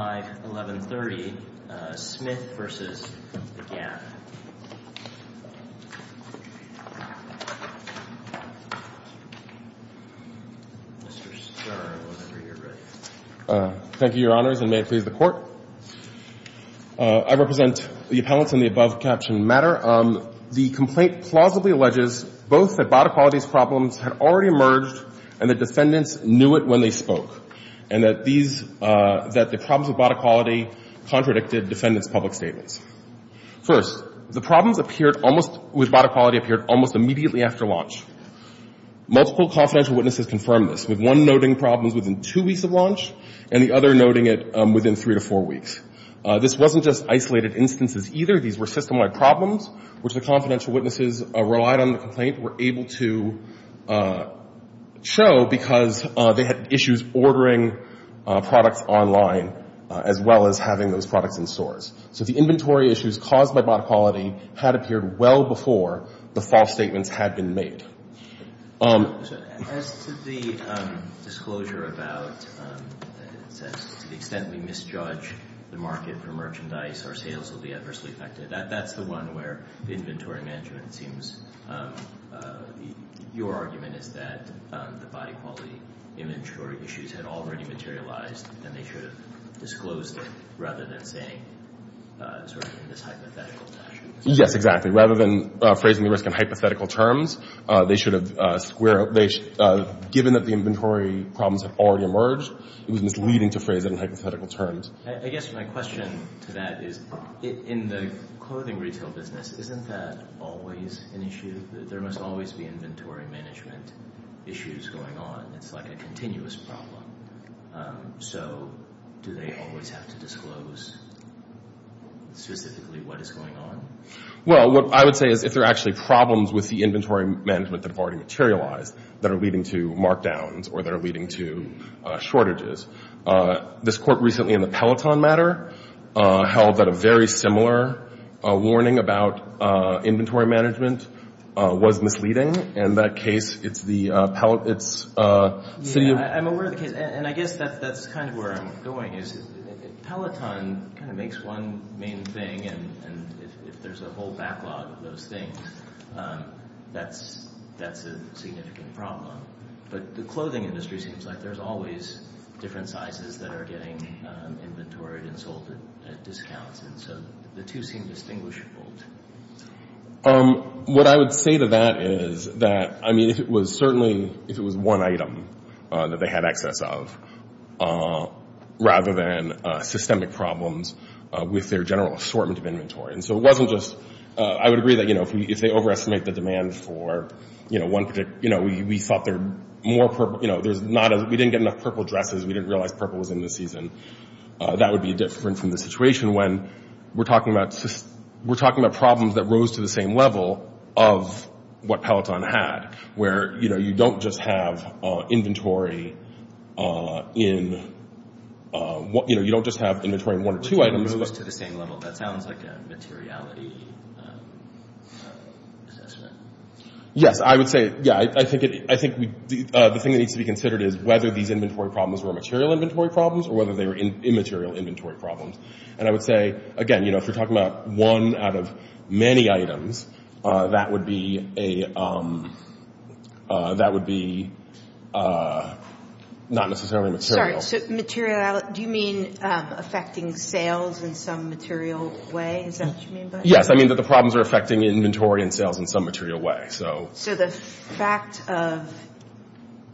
51130, Smith v. The Gap. Thank you, Your Honors, and may it please the Court. I represent the appellants in the above-captioned matter. The complaint plausibly alleges both that bodily qualities problems had already emerged and that defendants knew it when they spoke and that the problems with bodily quality contradicted defendants' public statements. First, the problems with bodily quality appeared almost immediately after launch. Multiple confidential witnesses confirmed this, with one noting problems within two weeks of launch and the other noting it within three to four weeks. This wasn't just isolated instances, either. These were system-wide problems, which the confidential witnesses relied on the complaint were able to show because they had issues ordering products online as well as having those products in stores. So the inventory issues caused by bodily quality had appeared well before the false statements had been made. As to the disclosure about the extent we misjudge the market for merchandise, our sales will be adversely affected. That's the one where the inventory management seems— your argument is that the body quality inventory issues had already materialized and they should have disclosed it rather than saying sort of in this hypothetical fashion. Yes, exactly. Rather than phrasing the risk in hypothetical terms, they should have— given that the inventory problems had already emerged, it was misleading to phrase it in hypothetical terms. I guess my question to that is, in the clothing retail business, isn't that always an issue? There must always be inventory management issues going on. It's like a continuous problem. So do they always have to disclose specifically what is going on? Well, what I would say is if there are actually problems with the inventory management that have already materialized that are leading to markdowns or that are leading to shortages, this court recently in the Peloton matter held that a very similar warning about inventory management was misleading. In that case, it's the city of— I'm aware of the case, and I guess that's kind of where I'm going is Peloton kind of makes one main thing, and if there's a whole backlog of those things, that's a significant problem. But the clothing industry seems like there's always different sizes that are getting inventoried and sold at discounts, and so the two seem distinguishable. What I would say to that is that, I mean, if it was certainly— if it was one item that they had access of rather than systemic problems with their general assortment of inventory. And so it wasn't just—I would agree that if they overestimate the demand for one particular— we thought there were more purple—we didn't get enough purple dresses. We didn't realize purple was in this season. That would be different from the situation when we're talking about problems that rose to the same level of what Peloton had, where you don't just have inventory in—you don't just have inventory in one or two items. It rose to the same level. That sounds like a materiality assessment. Yes, I would say—yeah, I think the thing that needs to be considered is whether these inventory problems were material inventory problems or whether they were immaterial inventory problems. And I would say, again, you know, if you're talking about one out of many items, that would be a—that would be not necessarily material. Sorry, so material—do you mean affecting sales in some material way? Is that what you mean by that? Yes, I mean that the problems are affecting inventory and sales in some material way, so— So the fact of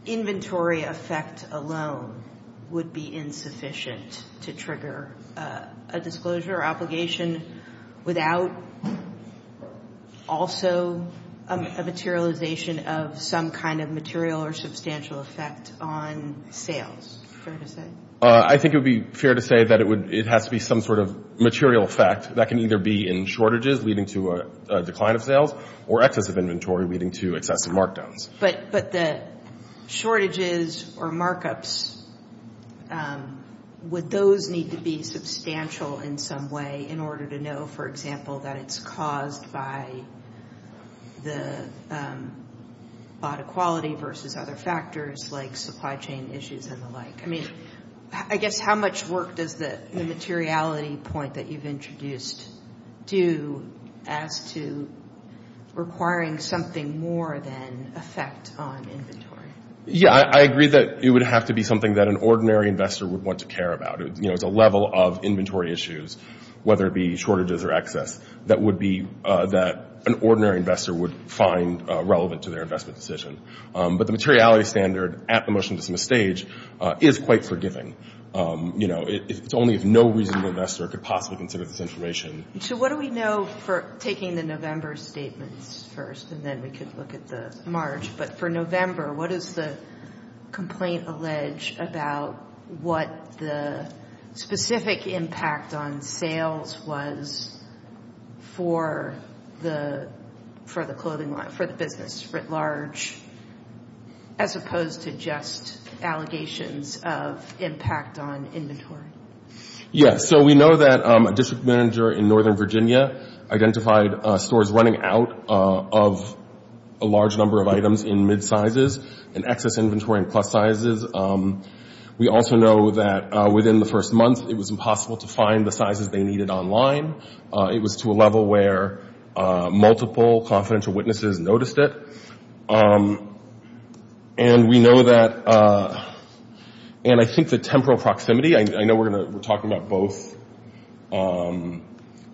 inventory effect alone would be insufficient to trigger a disclosure or obligation without also a materialization of some kind of material or substantial effect on sales, fair to say? I think it would be fair to say that it would—it has to be some sort of material effect. That can either be in shortages leading to a decline of sales or excess of inventory leading to excessive markdowns. But the shortages or markups, would those need to be substantial in some way in order to know, for example, that it's caused by the bought equality versus other factors like supply chain issues and the like? I mean, I guess how much work does the materiality point that you've introduced do as to requiring something more than effect on inventory? Yeah, I agree that it would have to be something that an ordinary investor would want to care about. You know, it's a level of inventory issues, whether it be shortages or excess, that would be—that an ordinary investor would find relevant to their investment decision. But the materiality standard at the motion to dismiss stage is quite forgiving. You know, it's only if no reasonable investor could possibly consider this information. So what do we know for—taking the November statements first, and then we could look at the March. But for November, what does the complaint allege about what the specific impact on sales was for the clothing line, for the business writ large, as opposed to just allegations of impact on inventory? Yeah, so we know that a district manager in Northern Virginia identified stores running out of a large number of items in mid-sizes and excess inventory in plus sizes. We also know that within the first month, it was impossible to find the sizes they needed online. It was to a level where multiple confidential witnesses noticed it. And we know that—and I think the temporal proximity, I know we're going to—we're talking about both. We're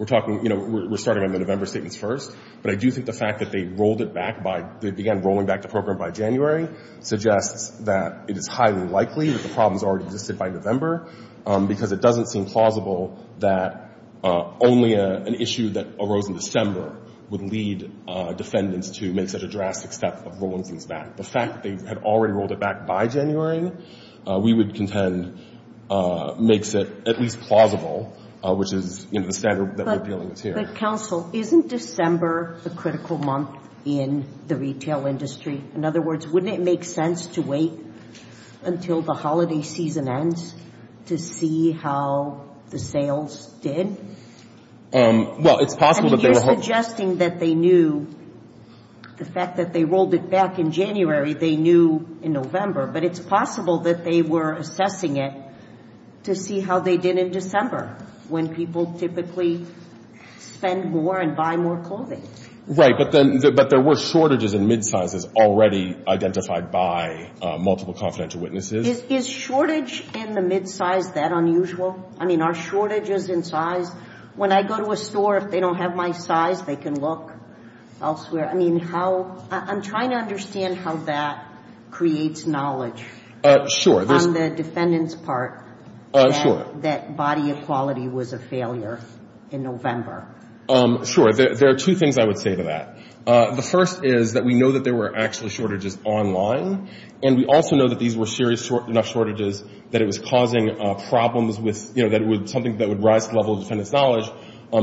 talking—you know, we're starting on the November statements first, but I do think the fact that they rolled it back by—they began rolling back the program by January suggests that it is highly likely that the problems already existed by November because it doesn't seem plausible that only an issue that arose in December would lead defendants to make such a drastic step of rolling things back. The fact that they had already rolled it back by January, we would contend, makes it at least plausible, which is, you know, the standard that we're dealing with here. But, counsel, isn't December a critical month in the retail industry? In other words, wouldn't it make sense to wait until the holiday season ends to see how the sales did? Well, it's possible that they were— I mean, you're suggesting that they knew—the fact that they rolled it back in January, they knew in November. But it's possible that they were assessing it to see how they did in December, when people typically spend more and buy more clothing. Right. But then—but there were shortages in mid-sizes already identified by multiple confidential witnesses. Is shortage in the mid-size that unusual? I mean, are shortages in size? When I go to a store, if they don't have my size, they can look elsewhere. I mean, how—I'm trying to understand how that creates knowledge. Sure. On the defendants' part. Sure. That body equality was a failure in November. Sure. There are two things I would say to that. The first is that we know that there were actually shortages online, and we also know that these were serious enough shortages that it was causing problems with— you know, that it was something that would rise to the level of defendant's knowledge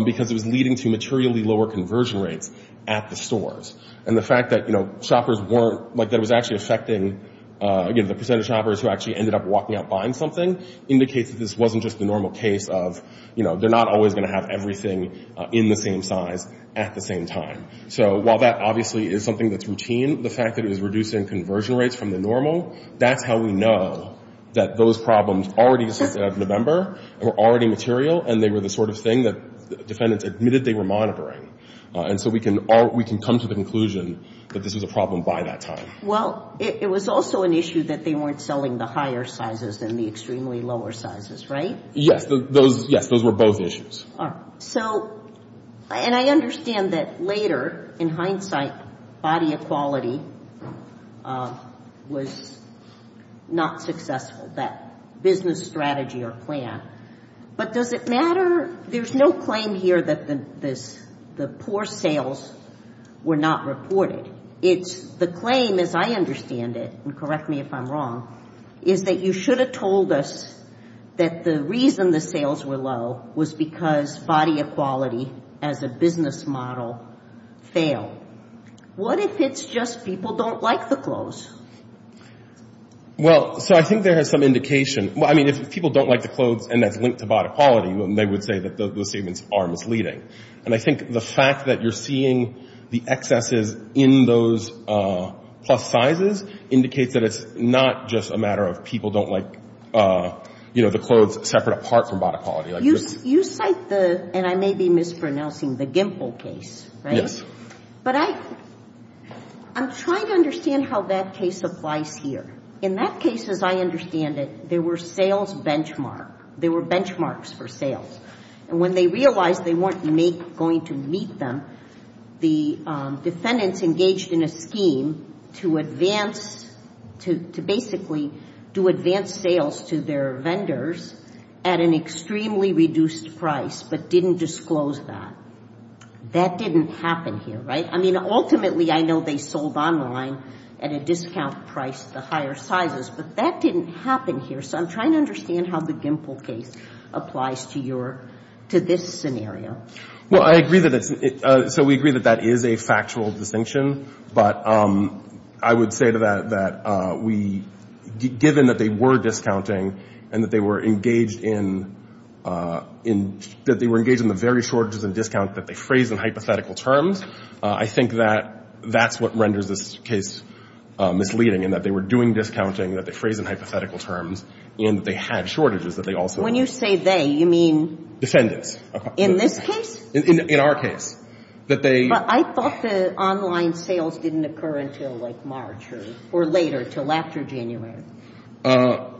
because it was leading to materially lower conversion rates at the stores. And the fact that, you know, shoppers weren't—like, that it was actually affecting, you know, the percentage of shoppers who actually ended up walking out buying something indicates that this wasn't just the normal case of, you know, they're not always going to have everything in the same size at the same time. So while that obviously is something that's routine, the fact that it was reducing conversion rates from the normal, that's how we know that those problems already existed out of November, were already material, and they were the sort of thing that defendants admitted they were monitoring. And so we can come to the conclusion that this was a problem by that time. Well, it was also an issue that they weren't selling the higher sizes than the extremely lower sizes, right? Yes. Those—yes, those were both issues. All right. So—and I understand that later, in hindsight, body equality was not successful, that business strategy or plan. But does it matter—there's no claim here that the poor sales were not reported. It's—the claim, as I understand it, and correct me if I'm wrong, is that you should have told us that the reason the sales were low was because body equality as a business model failed. What if it's just people don't like the clothes? Well, so I think there is some indication— I mean, if people don't like the clothes and that's linked to body equality, they would say that those statements are misleading. And I think the fact that you're seeing the excesses in those plus sizes indicates that it's not just a matter of people don't like, you know, the clothes separate apart from body equality. You cite the—and I may be mispronouncing—the Gimple case, right? Yes. But I—I'm trying to understand how that case applies here. In that case, as I understand it, there were sales benchmark. There were benchmarks for sales. And when they realized they weren't going to meet them, the defendants engaged in a scheme to advance— to basically do advanced sales to their vendors at an extremely reduced price but didn't disclose that. That didn't happen here, right? I mean, ultimately, I know they sold online at a discount price, the higher sizes. But that didn't happen here. So I'm trying to understand how the Gimple case applies to your—to this scenario. Well, I agree that it's—so we agree that that is a factual distinction. But I would say to that that we—given that they were discounting and that they were engaged in—that they were engaged in the very shortages and discount that they phrased in hypothetical terms, I think that that's what renders this case misleading, in that they were doing discounting that they phrased in hypothetical terms and that they had shortages that they also— When you say they, you mean— Defendants. In this case? In our case. That they— But I thought the online sales didn't occur until, like, March or later, until after January. Am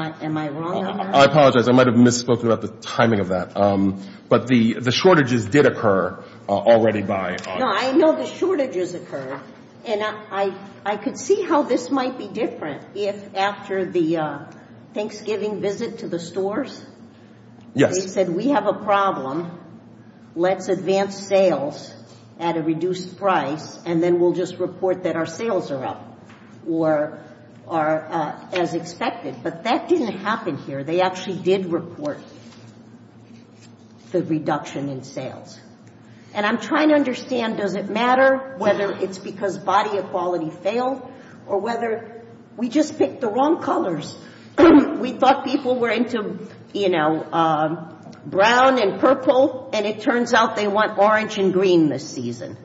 I wrong on that? I apologize. I might have misspoke about the timing of that. But the shortages did occur already by— No, I know the shortages occurred. And I could see how this might be different if, after the Thanksgiving visit to the stores— Yes. They said, we have a problem. Let's advance sales at a reduced price, and then we'll just report that our sales are up or are as expected. But that didn't happen here. They actually did report the reduction in sales. And I'm trying to understand, does it matter whether it's because body equality failed or whether we just picked the wrong colors? We thought people were into, you know, brown and purple, and it turns out they want orange and green this season.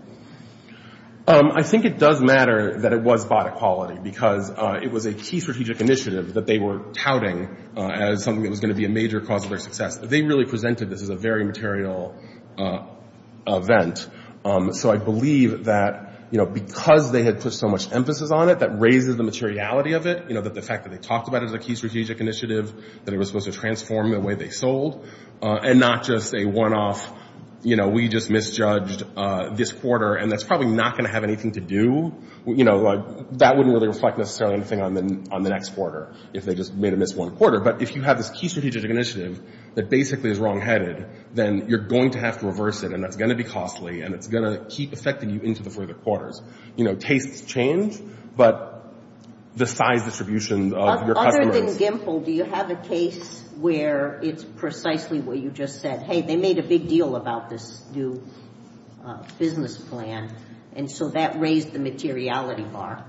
I think it does matter that it was body equality because it was a key strategic initiative that they were touting as something that was going to be a major cause of their success. They really presented this as a very material event. So I believe that, you know, because they had put so much emphasis on it, that raises the materiality of it, you know, that the fact that they talked about it as a key strategic initiative, that it was supposed to transform the way they sold, and not just a one-off, you know, we just misjudged this quarter, and that's probably not going to have anything to do. You know, that wouldn't really reflect necessarily anything on the next quarter, if they just made a missed one quarter. But if you have this key strategic initiative that basically is wrongheaded, then you're going to have to reverse it, and that's going to be costly, and it's going to keep affecting you into the further quarters. You know, tastes change, but the size distribution of your customers. Other than Gimple, do you have a case where it's precisely where you just said, hey, they made a big deal about this new business plan, and so that raised the materiality bar?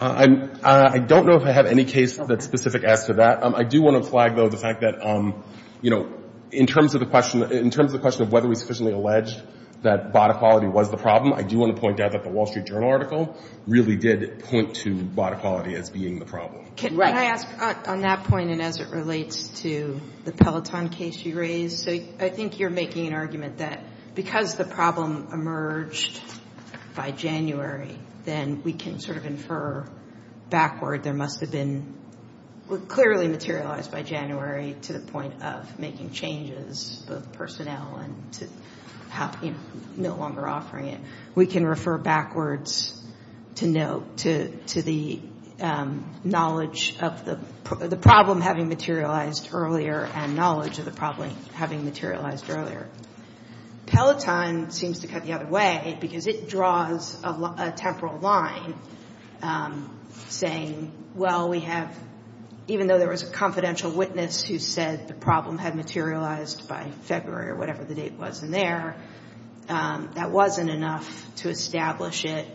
I don't know if I have any case that's specific as to that. I do want to flag, though, the fact that, you know, in terms of the question, in terms of the question of whether we sufficiently alleged that bought equality was the problem, I do want to point out that the Wall Street Journal article really did point to bought equality as being the problem. Can I ask on that point, and as it relates to the Peloton case you raised, I think you're making an argument that because the problem emerged by January, then we can sort of infer backward. There must have been clearly materialized by January to the point of making changes, both personnel and to no longer offering it. We can refer backwards to note, to the knowledge of the problem having materialized earlier and knowledge of the problem having materialized earlier. Peloton seems to cut the other way because it draws a temporal line saying, well, we have, even though there was a confidential witness who said the problem had materialized by February or whatever the date was in there, that wasn't enough to establish it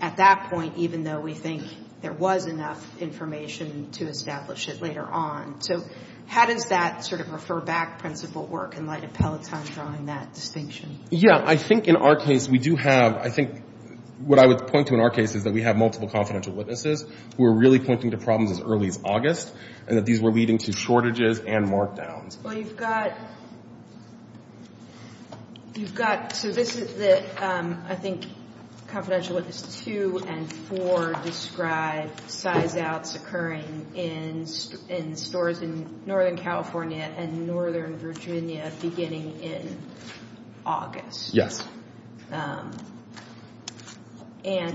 at that point, even though we think there was enough information to establish it later on. So how does that sort of refer back principle work in light of Peloton drawing that distinction? Yeah. I think in our case, we do have, I think what I would point to in our case is that we have multiple confidential witnesses who are really pointing to problems as early as August and that these were leading to shortages and markdowns. Well, you've got, you've got, so this is the, I think, confidential witnesses two and four that describe size-outs occurring in stores in Northern California and Northern Virginia beginning in August. Yes. And,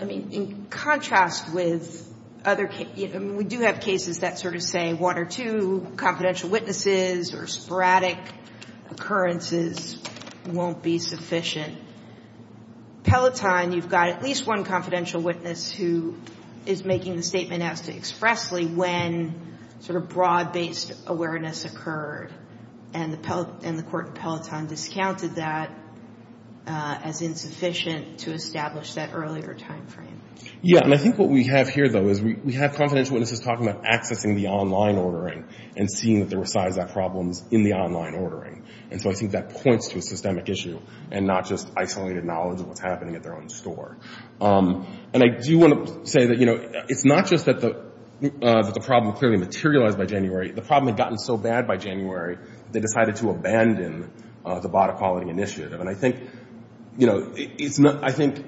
I mean, in contrast with other, I mean, we do have cases that sort of say one or two confidential witnesses or sporadic occurrences won't be sufficient. Peloton, you've got at least one confidential witness who is making the statement as to expressly when sort of broad-based awareness occurred, and the court in Peloton discounted that as insufficient to establish that earlier time frame. Yeah. And I think what we have here, though, is we have confidential witnesses talking about accessing the online ordering and seeing that there were size-out problems in the online ordering. And so I think that points to a systemic issue and not just isolated knowledge of what's happening at their own store. And I do want to say that, you know, it's not just that the problem clearly materialized by January. The problem had gotten so bad by January, they decided to abandon the Bata Quality Initiative. And I think, you know, it's not, I think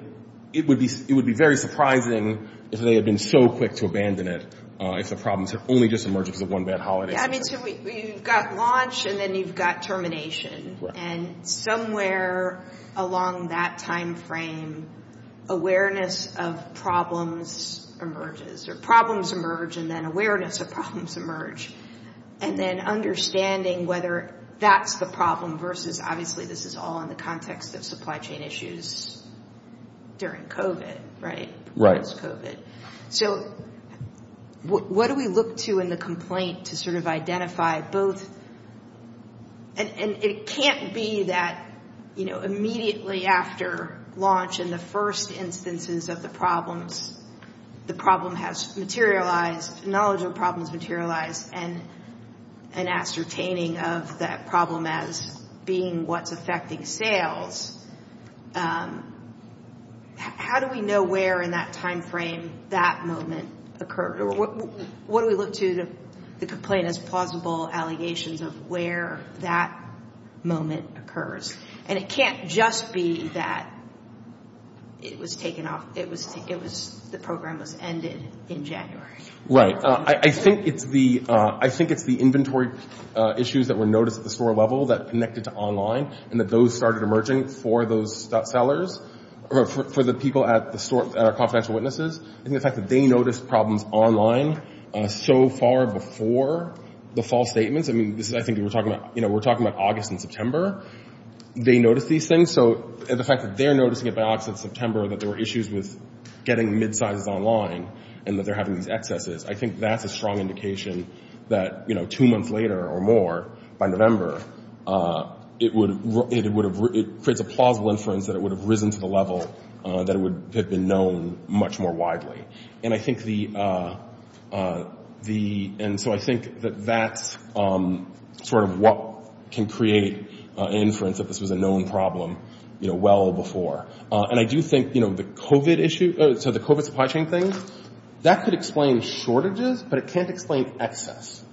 it would be very surprising if they had been so quick to abandon it if the problems had only just emerged because of one bad holiday. I mean, so you've got launch, and then you've got termination. And somewhere along that time frame, awareness of problems emerges. Or problems emerge, and then awareness of problems emerge. And then understanding whether that's the problem versus, obviously, this is all in the context of supply chain issues during COVID, right? Right. So what do we look to in the complaint to sort of identify both? And it can't be that, you know, immediately after launch in the first instances of the problems, the problem has materialized, knowledge of problems materialized, and ascertaining of that problem as being what's affecting sales. How do we know where in that time frame that moment occurred? Or what do we look to the complaint as plausible allegations of where that moment occurs? And it can't just be that it was taken off, it was, the program was ended in January. Right. I think it's the inventory issues that were noticed at the store level that connected to online, and that those started emerging for those sellers, for the people at our confidential witnesses. I think the fact that they noticed problems online so far before the false statements, I mean, I think we're talking about August and September, they noticed these things. So the fact that they're noticing it by August and September that there were issues with getting mid-sizes online, and that they're having these excesses, I think that's a strong indication that, you know, two months later or more, by November, it would have, it creates a plausible inference that it would have risen to the level that it would have been known much more widely. And I think the, and so I think that that's sort of what can create an inference that this was a known problem, you know, well before. And I do think, you know, the COVID issue, so the COVID supply chain thing, that could explain shortages, but it can't explain excess.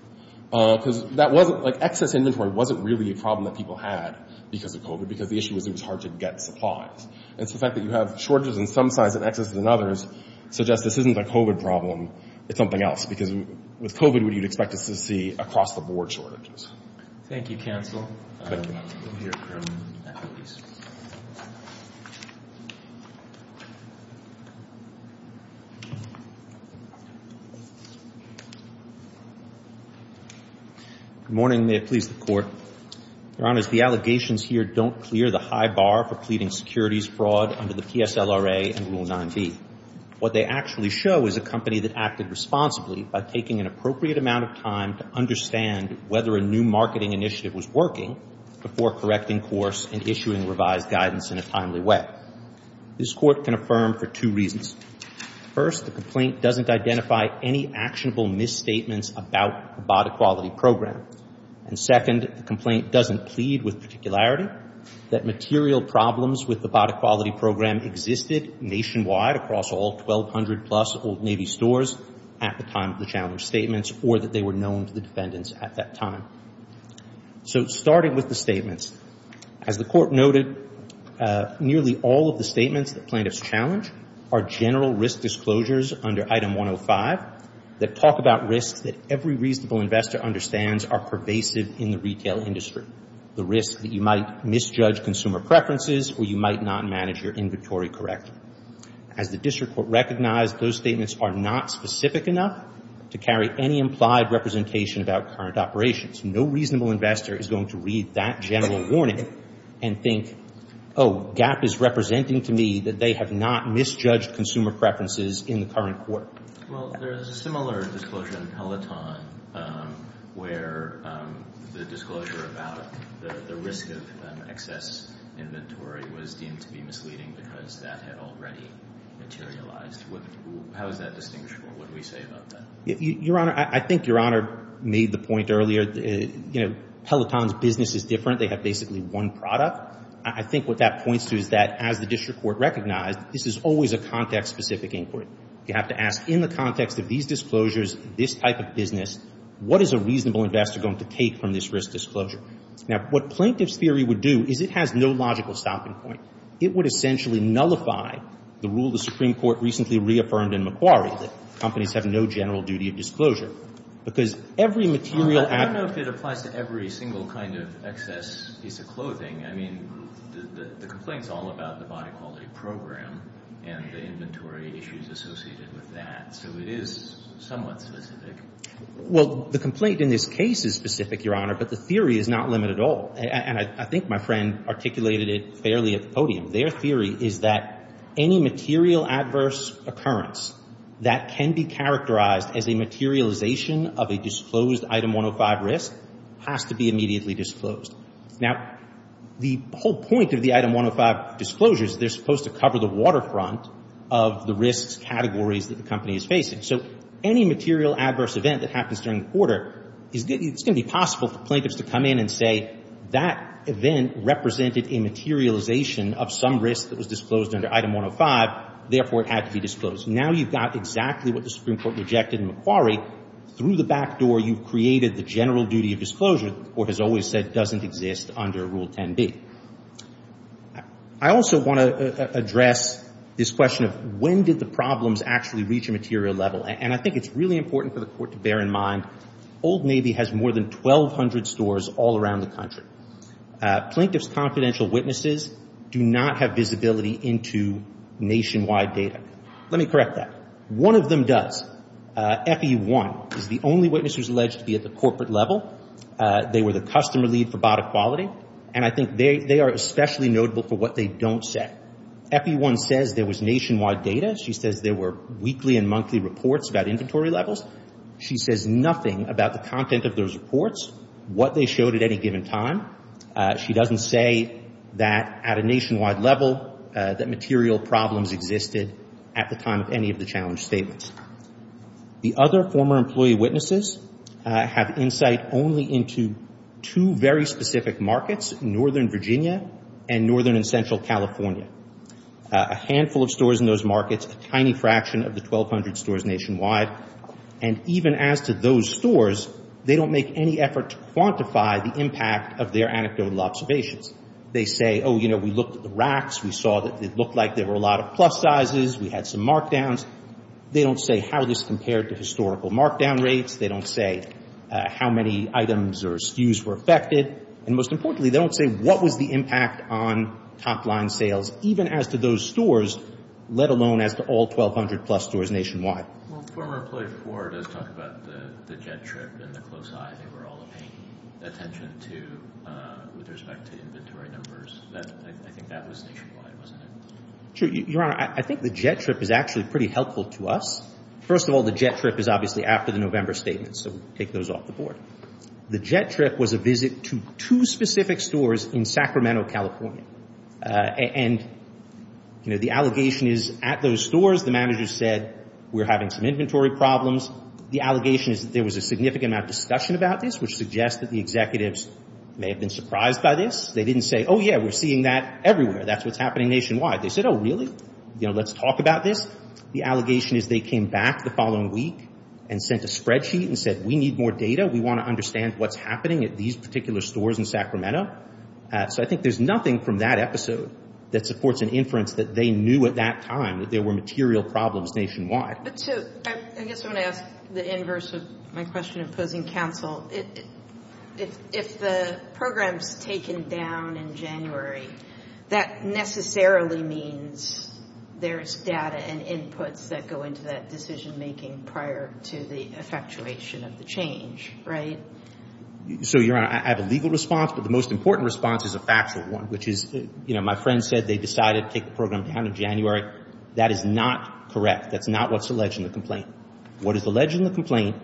Because that wasn't, like, excess inventory wasn't really a problem that people had because of COVID, because the issue was it was hard to get supplies. And so the fact that you have shortages in some sizes and excesses in others suggests this isn't a COVID problem, it's something else, because with COVID, what you'd expect is to see across-the-board shortages. Thank you, Counsel. Good morning. May it please the Court. Your Honors, the allegations here don't clear the high bar for pleading securities fraud under the PSLRA and Rule 9b. What they actually show is a company that acted responsibly by taking an appropriate amount of time to understand whether a new marketing initiative was working before correcting course and issuing revised guidance in a timely way. This Court can affirm for two reasons. First, the complaint doesn't identify any actionable misstatements about the BOD Equality Program. And second, the complaint doesn't plead with particularity that material problems with the BOD Equality Program existed nationwide across all 1,200-plus Old Navy stores at the time of the challenge statements or that they were known to the defendants at that time. So starting with the statements, as the Court noted, nearly all of the statements that plaintiffs challenge are general risk disclosures under Item 105 that talk about risks that every reasonable investor understands are pervasive in the retail industry, the risk that you might misjudge consumer preferences or you might not manage your inventory correctly. As the District Court recognized, those statements are not specific enough to carry any implied representation about current operations. No reasonable investor is going to read that general warning and think, oh, GAAP is representing to me that they have not misjudged consumer preferences in the current court. Well, there is a similar disclosure in Peloton where the disclosure about the risk of excess inventory was deemed to be misleading because that had already materialized. How is that distinguished from what we say about that? Your Honor, I think Your Honor made the point earlier, Peloton's business is different. They have basically one product. I think what that points to is that as the District Court recognized, this is always a context-specific inquiry. You have to ask in the context of these disclosures, this type of business, what is a reasonable investor going to take from this risk disclosure? Now, what plaintiff's theory would do is it has no logical stopping point. It would essentially nullify the rule the Supreme Court recently reaffirmed in McQuarrie that companies have no general duty of disclosure because every material advertisement I don't know if it applies to every single kind of excess piece of clothing. I mean, the complaint is all about the body quality program and the inventory issues associated with that. So it is somewhat specific. Well, the complaint in this case is specific, Your Honor, but the theory is not limited at all. And I think my friend articulated it fairly at the podium. Their theory is that any material adverse occurrence that can be characterized as a materialization of a disclosed Item 105 risk has to be immediately disclosed. Now, the whole point of the Item 105 disclosures, they're supposed to cover the waterfront of the risks categories that the company is facing. So any material adverse event that happens during the quarter, it's going to be possible for plaintiffs to come in and say that event represented a materialization of some risk that was disclosed under Item 105. Therefore, it had to be disclosed. Now you've got exactly what the Supreme Court rejected in McQuarrie. Through the back door, you've created the general duty of disclosure that the Court has always said doesn't exist under Rule 10b. I also want to address this question of when did the problems actually reach a material level. And I think it's really important for the Court to bear in mind, Old Navy has more than 1,200 stores all around the country. Plaintiff's confidential witnesses do not have visibility into nationwide data. Let me correct that. One of them does. FE1 is the only witness who's alleged to be at the corporate level. They were the customer lead for Bata Quality. And I think they are especially notable for what they don't say. FE1 says there was nationwide data. She says there were weekly and monthly reports about inventory levels. She says nothing about the content of those reports, what they showed at any given time. She doesn't say that at a nationwide level, that material problems existed at the time of any of the challenge statements. The other former employee witnesses have insight only into two very specific markets, Northern Virginia and Northern and Central California, a handful of stores in those markets, a tiny fraction of the 1,200 stores nationwide. And even as to those stores, they don't make any effort to quantify the impact of their anecdotal observations. They say, oh, you know, we looked at the racks. We saw that it looked like there were a lot of plus sizes. We had some markdowns. They don't say how this compared to historical markdown rates. They don't say how many items or SKUs were affected. And most importantly, they don't say what was the impact on top line sales, even as to those stores, let alone as to all 1,200 plus stores nationwide. Well, former employee four does talk about the jet trip and the close eye. They were all paying attention to, with respect to inventory numbers. I think that was nationwide, wasn't it? Sure. Your Honor, I think the jet trip is actually pretty helpful to us. First of all, the jet trip is obviously after the November statement, so we'll take those off the board. The jet trip was a visit to two specific stores in Sacramento, California. And, you know, the allegation is at those stores, the managers said, we're having some inventory problems. The allegation is that there was a significant amount of discussion about this, which suggests that the executives may have been surprised by this. They didn't say, oh, yeah, we're seeing that everywhere. That's what's happening nationwide. They said, oh, really? You know, let's talk about this. The allegation is they came back the following week and sent a spreadsheet and said, we need more data. We want to understand what's happening at these particular stores in Sacramento. So I think there's nothing from that episode that supports an inference that they knew at that time that there were material problems nationwide. I guess I want to ask the inverse of my question of opposing counsel. If the program's taken down in January, that necessarily means there's data and inputs that go into that decision-making prior to the effectuation of the change, right? So, Your Honor, I have a legal response, but the most important response is a factual one, which is, you know, my friend said they decided to take the program down in January. That is not correct. That's not what's alleged in the complaint. What is alleged in the complaint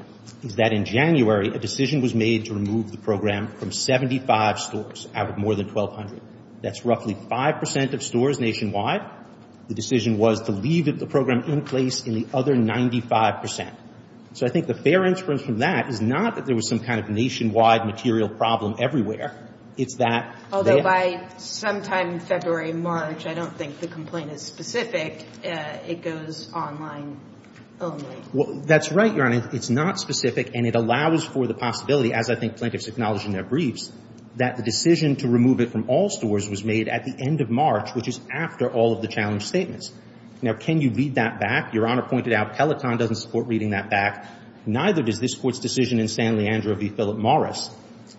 is that in January, a decision was made to remove the program from 75 stores out of more than 1,200. That's roughly 5 percent of stores nationwide. The decision was to leave the program in place in the other 95 percent. So I think the fair inference from that is not that there was some kind of nationwide material problem everywhere. It's that they had to do it. Although by sometime in February and March, I don't think the complaint is specific. It goes online only. Well, that's right, Your Honor. It's not specific, and it allows for the possibility, as I think plaintiffs acknowledge in their briefs, that the decision to remove it from all stores was made at the end of March, which is after all of the challenge statements. Now, can you read that back? Your Honor pointed out Peloton doesn't support reading that back. Neither does this Court's decision in San Leandro v. Philip Morris,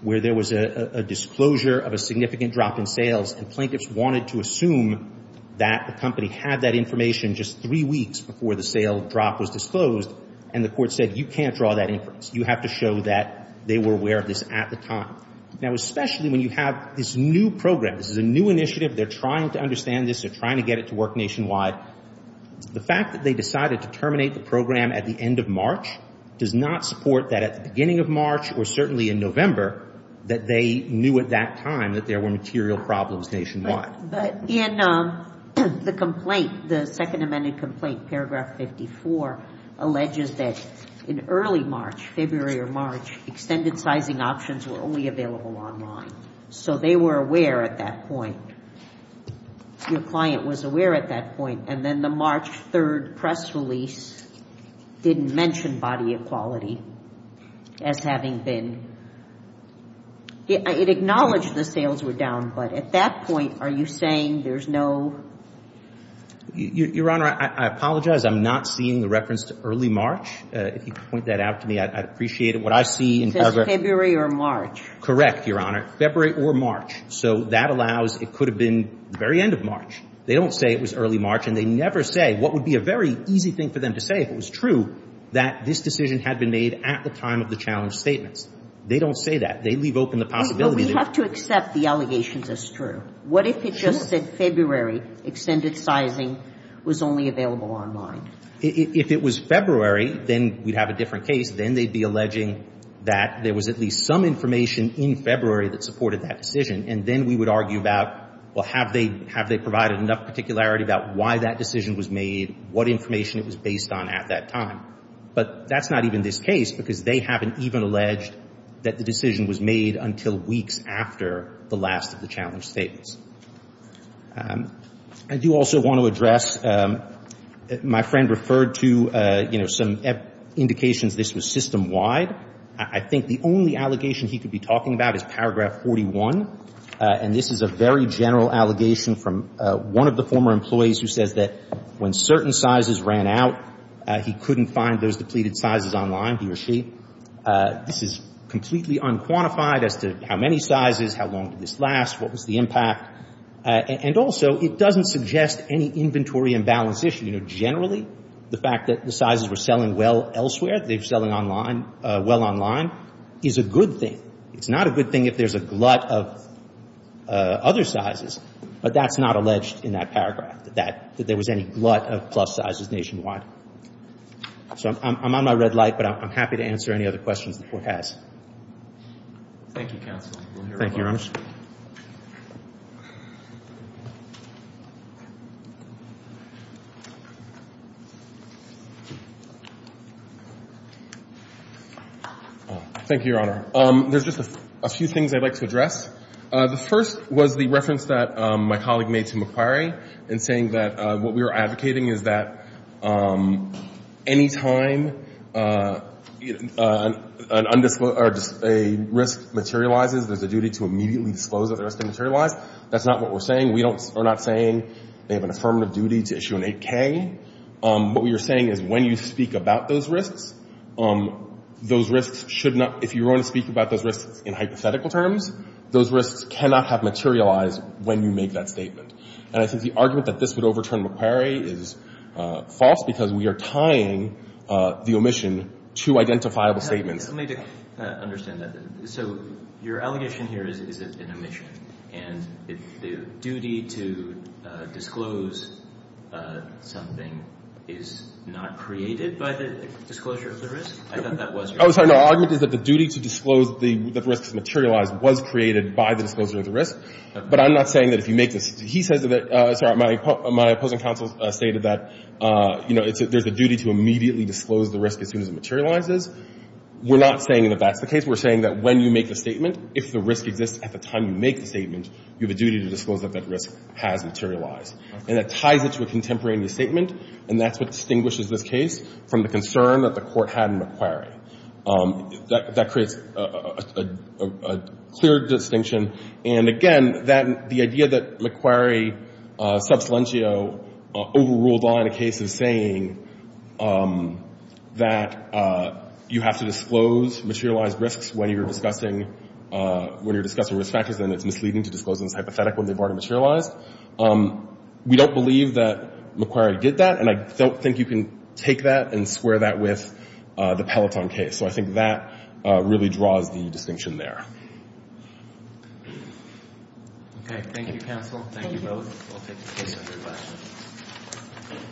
where there was a disclosure of a significant drop in sales, and plaintiffs wanted to assume that the company had that information just three weeks before the sale drop was disclosed, and the Court said you can't draw that inference. You have to show that they were aware of this at the time. Now, especially when you have this new program. This is a new initiative. They're trying to understand this. They're trying to get it to work nationwide. The fact that they decided to terminate the program at the end of March does not support that at the beginning of March or certainly in November that they knew at that time that there were material problems nationwide. But in the complaint, the second amended complaint, paragraph 54, alleges that in early March, February or March, extended sizing options were only available online. So they were aware at that point. Your client was aware at that point. And then the March 3 press release didn't mention body equality as having been. It acknowledged the sales were down. But at that point, are you saying there's no? Your Honor, I apologize. I'm not seeing the reference to early March. If you could point that out to me, I'd appreciate it. What I see in progress. February or March. Correct, Your Honor. February or March. So that allows it could have been the very end of March. They don't say it was early March, and they never say what would be a very easy thing for them to say if it was true that this decision had been made at the time of the challenge statements. They don't say that. They leave open the possibility. But we have to accept the allegations as true. Sure. What if it just said February, extended sizing was only available online? If it was February, then we'd have a different case. Then they'd be alleging that there was at least some information in February that supported that decision. And then we would argue about, well, have they provided enough particularity about why that decision was made, what information it was based on at that time? But that's not even this case because they haven't even alleged that the decision was made until weeks after the last of the challenge statements. I do also want to address, my friend referred to, you know, some indications this was system-wide. I think the only allegation he could be talking about is paragraph 41. And this is a very general allegation from one of the former employees who says that when certain sizes ran out, he couldn't find those depleted sizes online, he or she. This is completely unquantified as to how many sizes, how long did this last, what was the impact. And also, it doesn't suggest any inventory imbalance issue. You know, generally, the fact that the sizes were selling well elsewhere, they were selling online, well online, is a good thing. It's not a good thing if there's a glut of other sizes. But that's not alleged in that paragraph, that there was any glut of plus sizes nationwide. So I'm on my red light, but I'm happy to answer any other questions the Court has. Thank you, Counsel. Thank you, Your Honor. Thank you, Your Honor. There's just a few things I'd like to address. The first was the reference that my colleague made to McQuarrie in saying that what we were advocating is that any time an undisclosed or a risk materializes, there's a duty to immediately disclose that the risk materialized. That's not what we're saying. We are not saying they have an affirmative duty to issue an 8K. What we are saying is when you speak about those risks, those risks should not — if you were going to speak about those risks in hypothetical terms, those risks cannot have materialized when you make that statement. And I think the argument that this would overturn McQuarrie is false because we are tying the omission to identifiable statements. Let me understand that. So your allegation here is an omission. And the duty to disclose something is not created by the disclosure of the risk? I thought that was your argument. Oh, sorry. No, the argument is that the duty to disclose that the risk has materialized was created by the disclosure of the risk. But I'm not saying that if you make this — he says that — sorry, my opposing counsel stated that, you know, there's a duty to immediately disclose the risk as soon as it materializes. We're not saying that that's the case. We're saying that when you make the statement, if the risk exists at the time you make the statement, you have a duty to disclose that that risk has materialized. And that ties it to a contemporaneous statement, and that's what distinguishes this case from the concern that the Court had in McQuarrie. That creates a clear distinction. And, again, that — the idea that McQuarrie sub salientio overruled on a case is saying that you have to disclose materialized risks when you're discussing — when you're discussing risk factors, and it's misleading to disclose them as hypothetical when they've already materialized. We don't believe that McQuarrie did that, and I don't think you can take that and square that with the Peloton case. So I think that really draws the distinction there. Okay. Thank you, counsel. Thank you. Thank you both. I'll take your questions.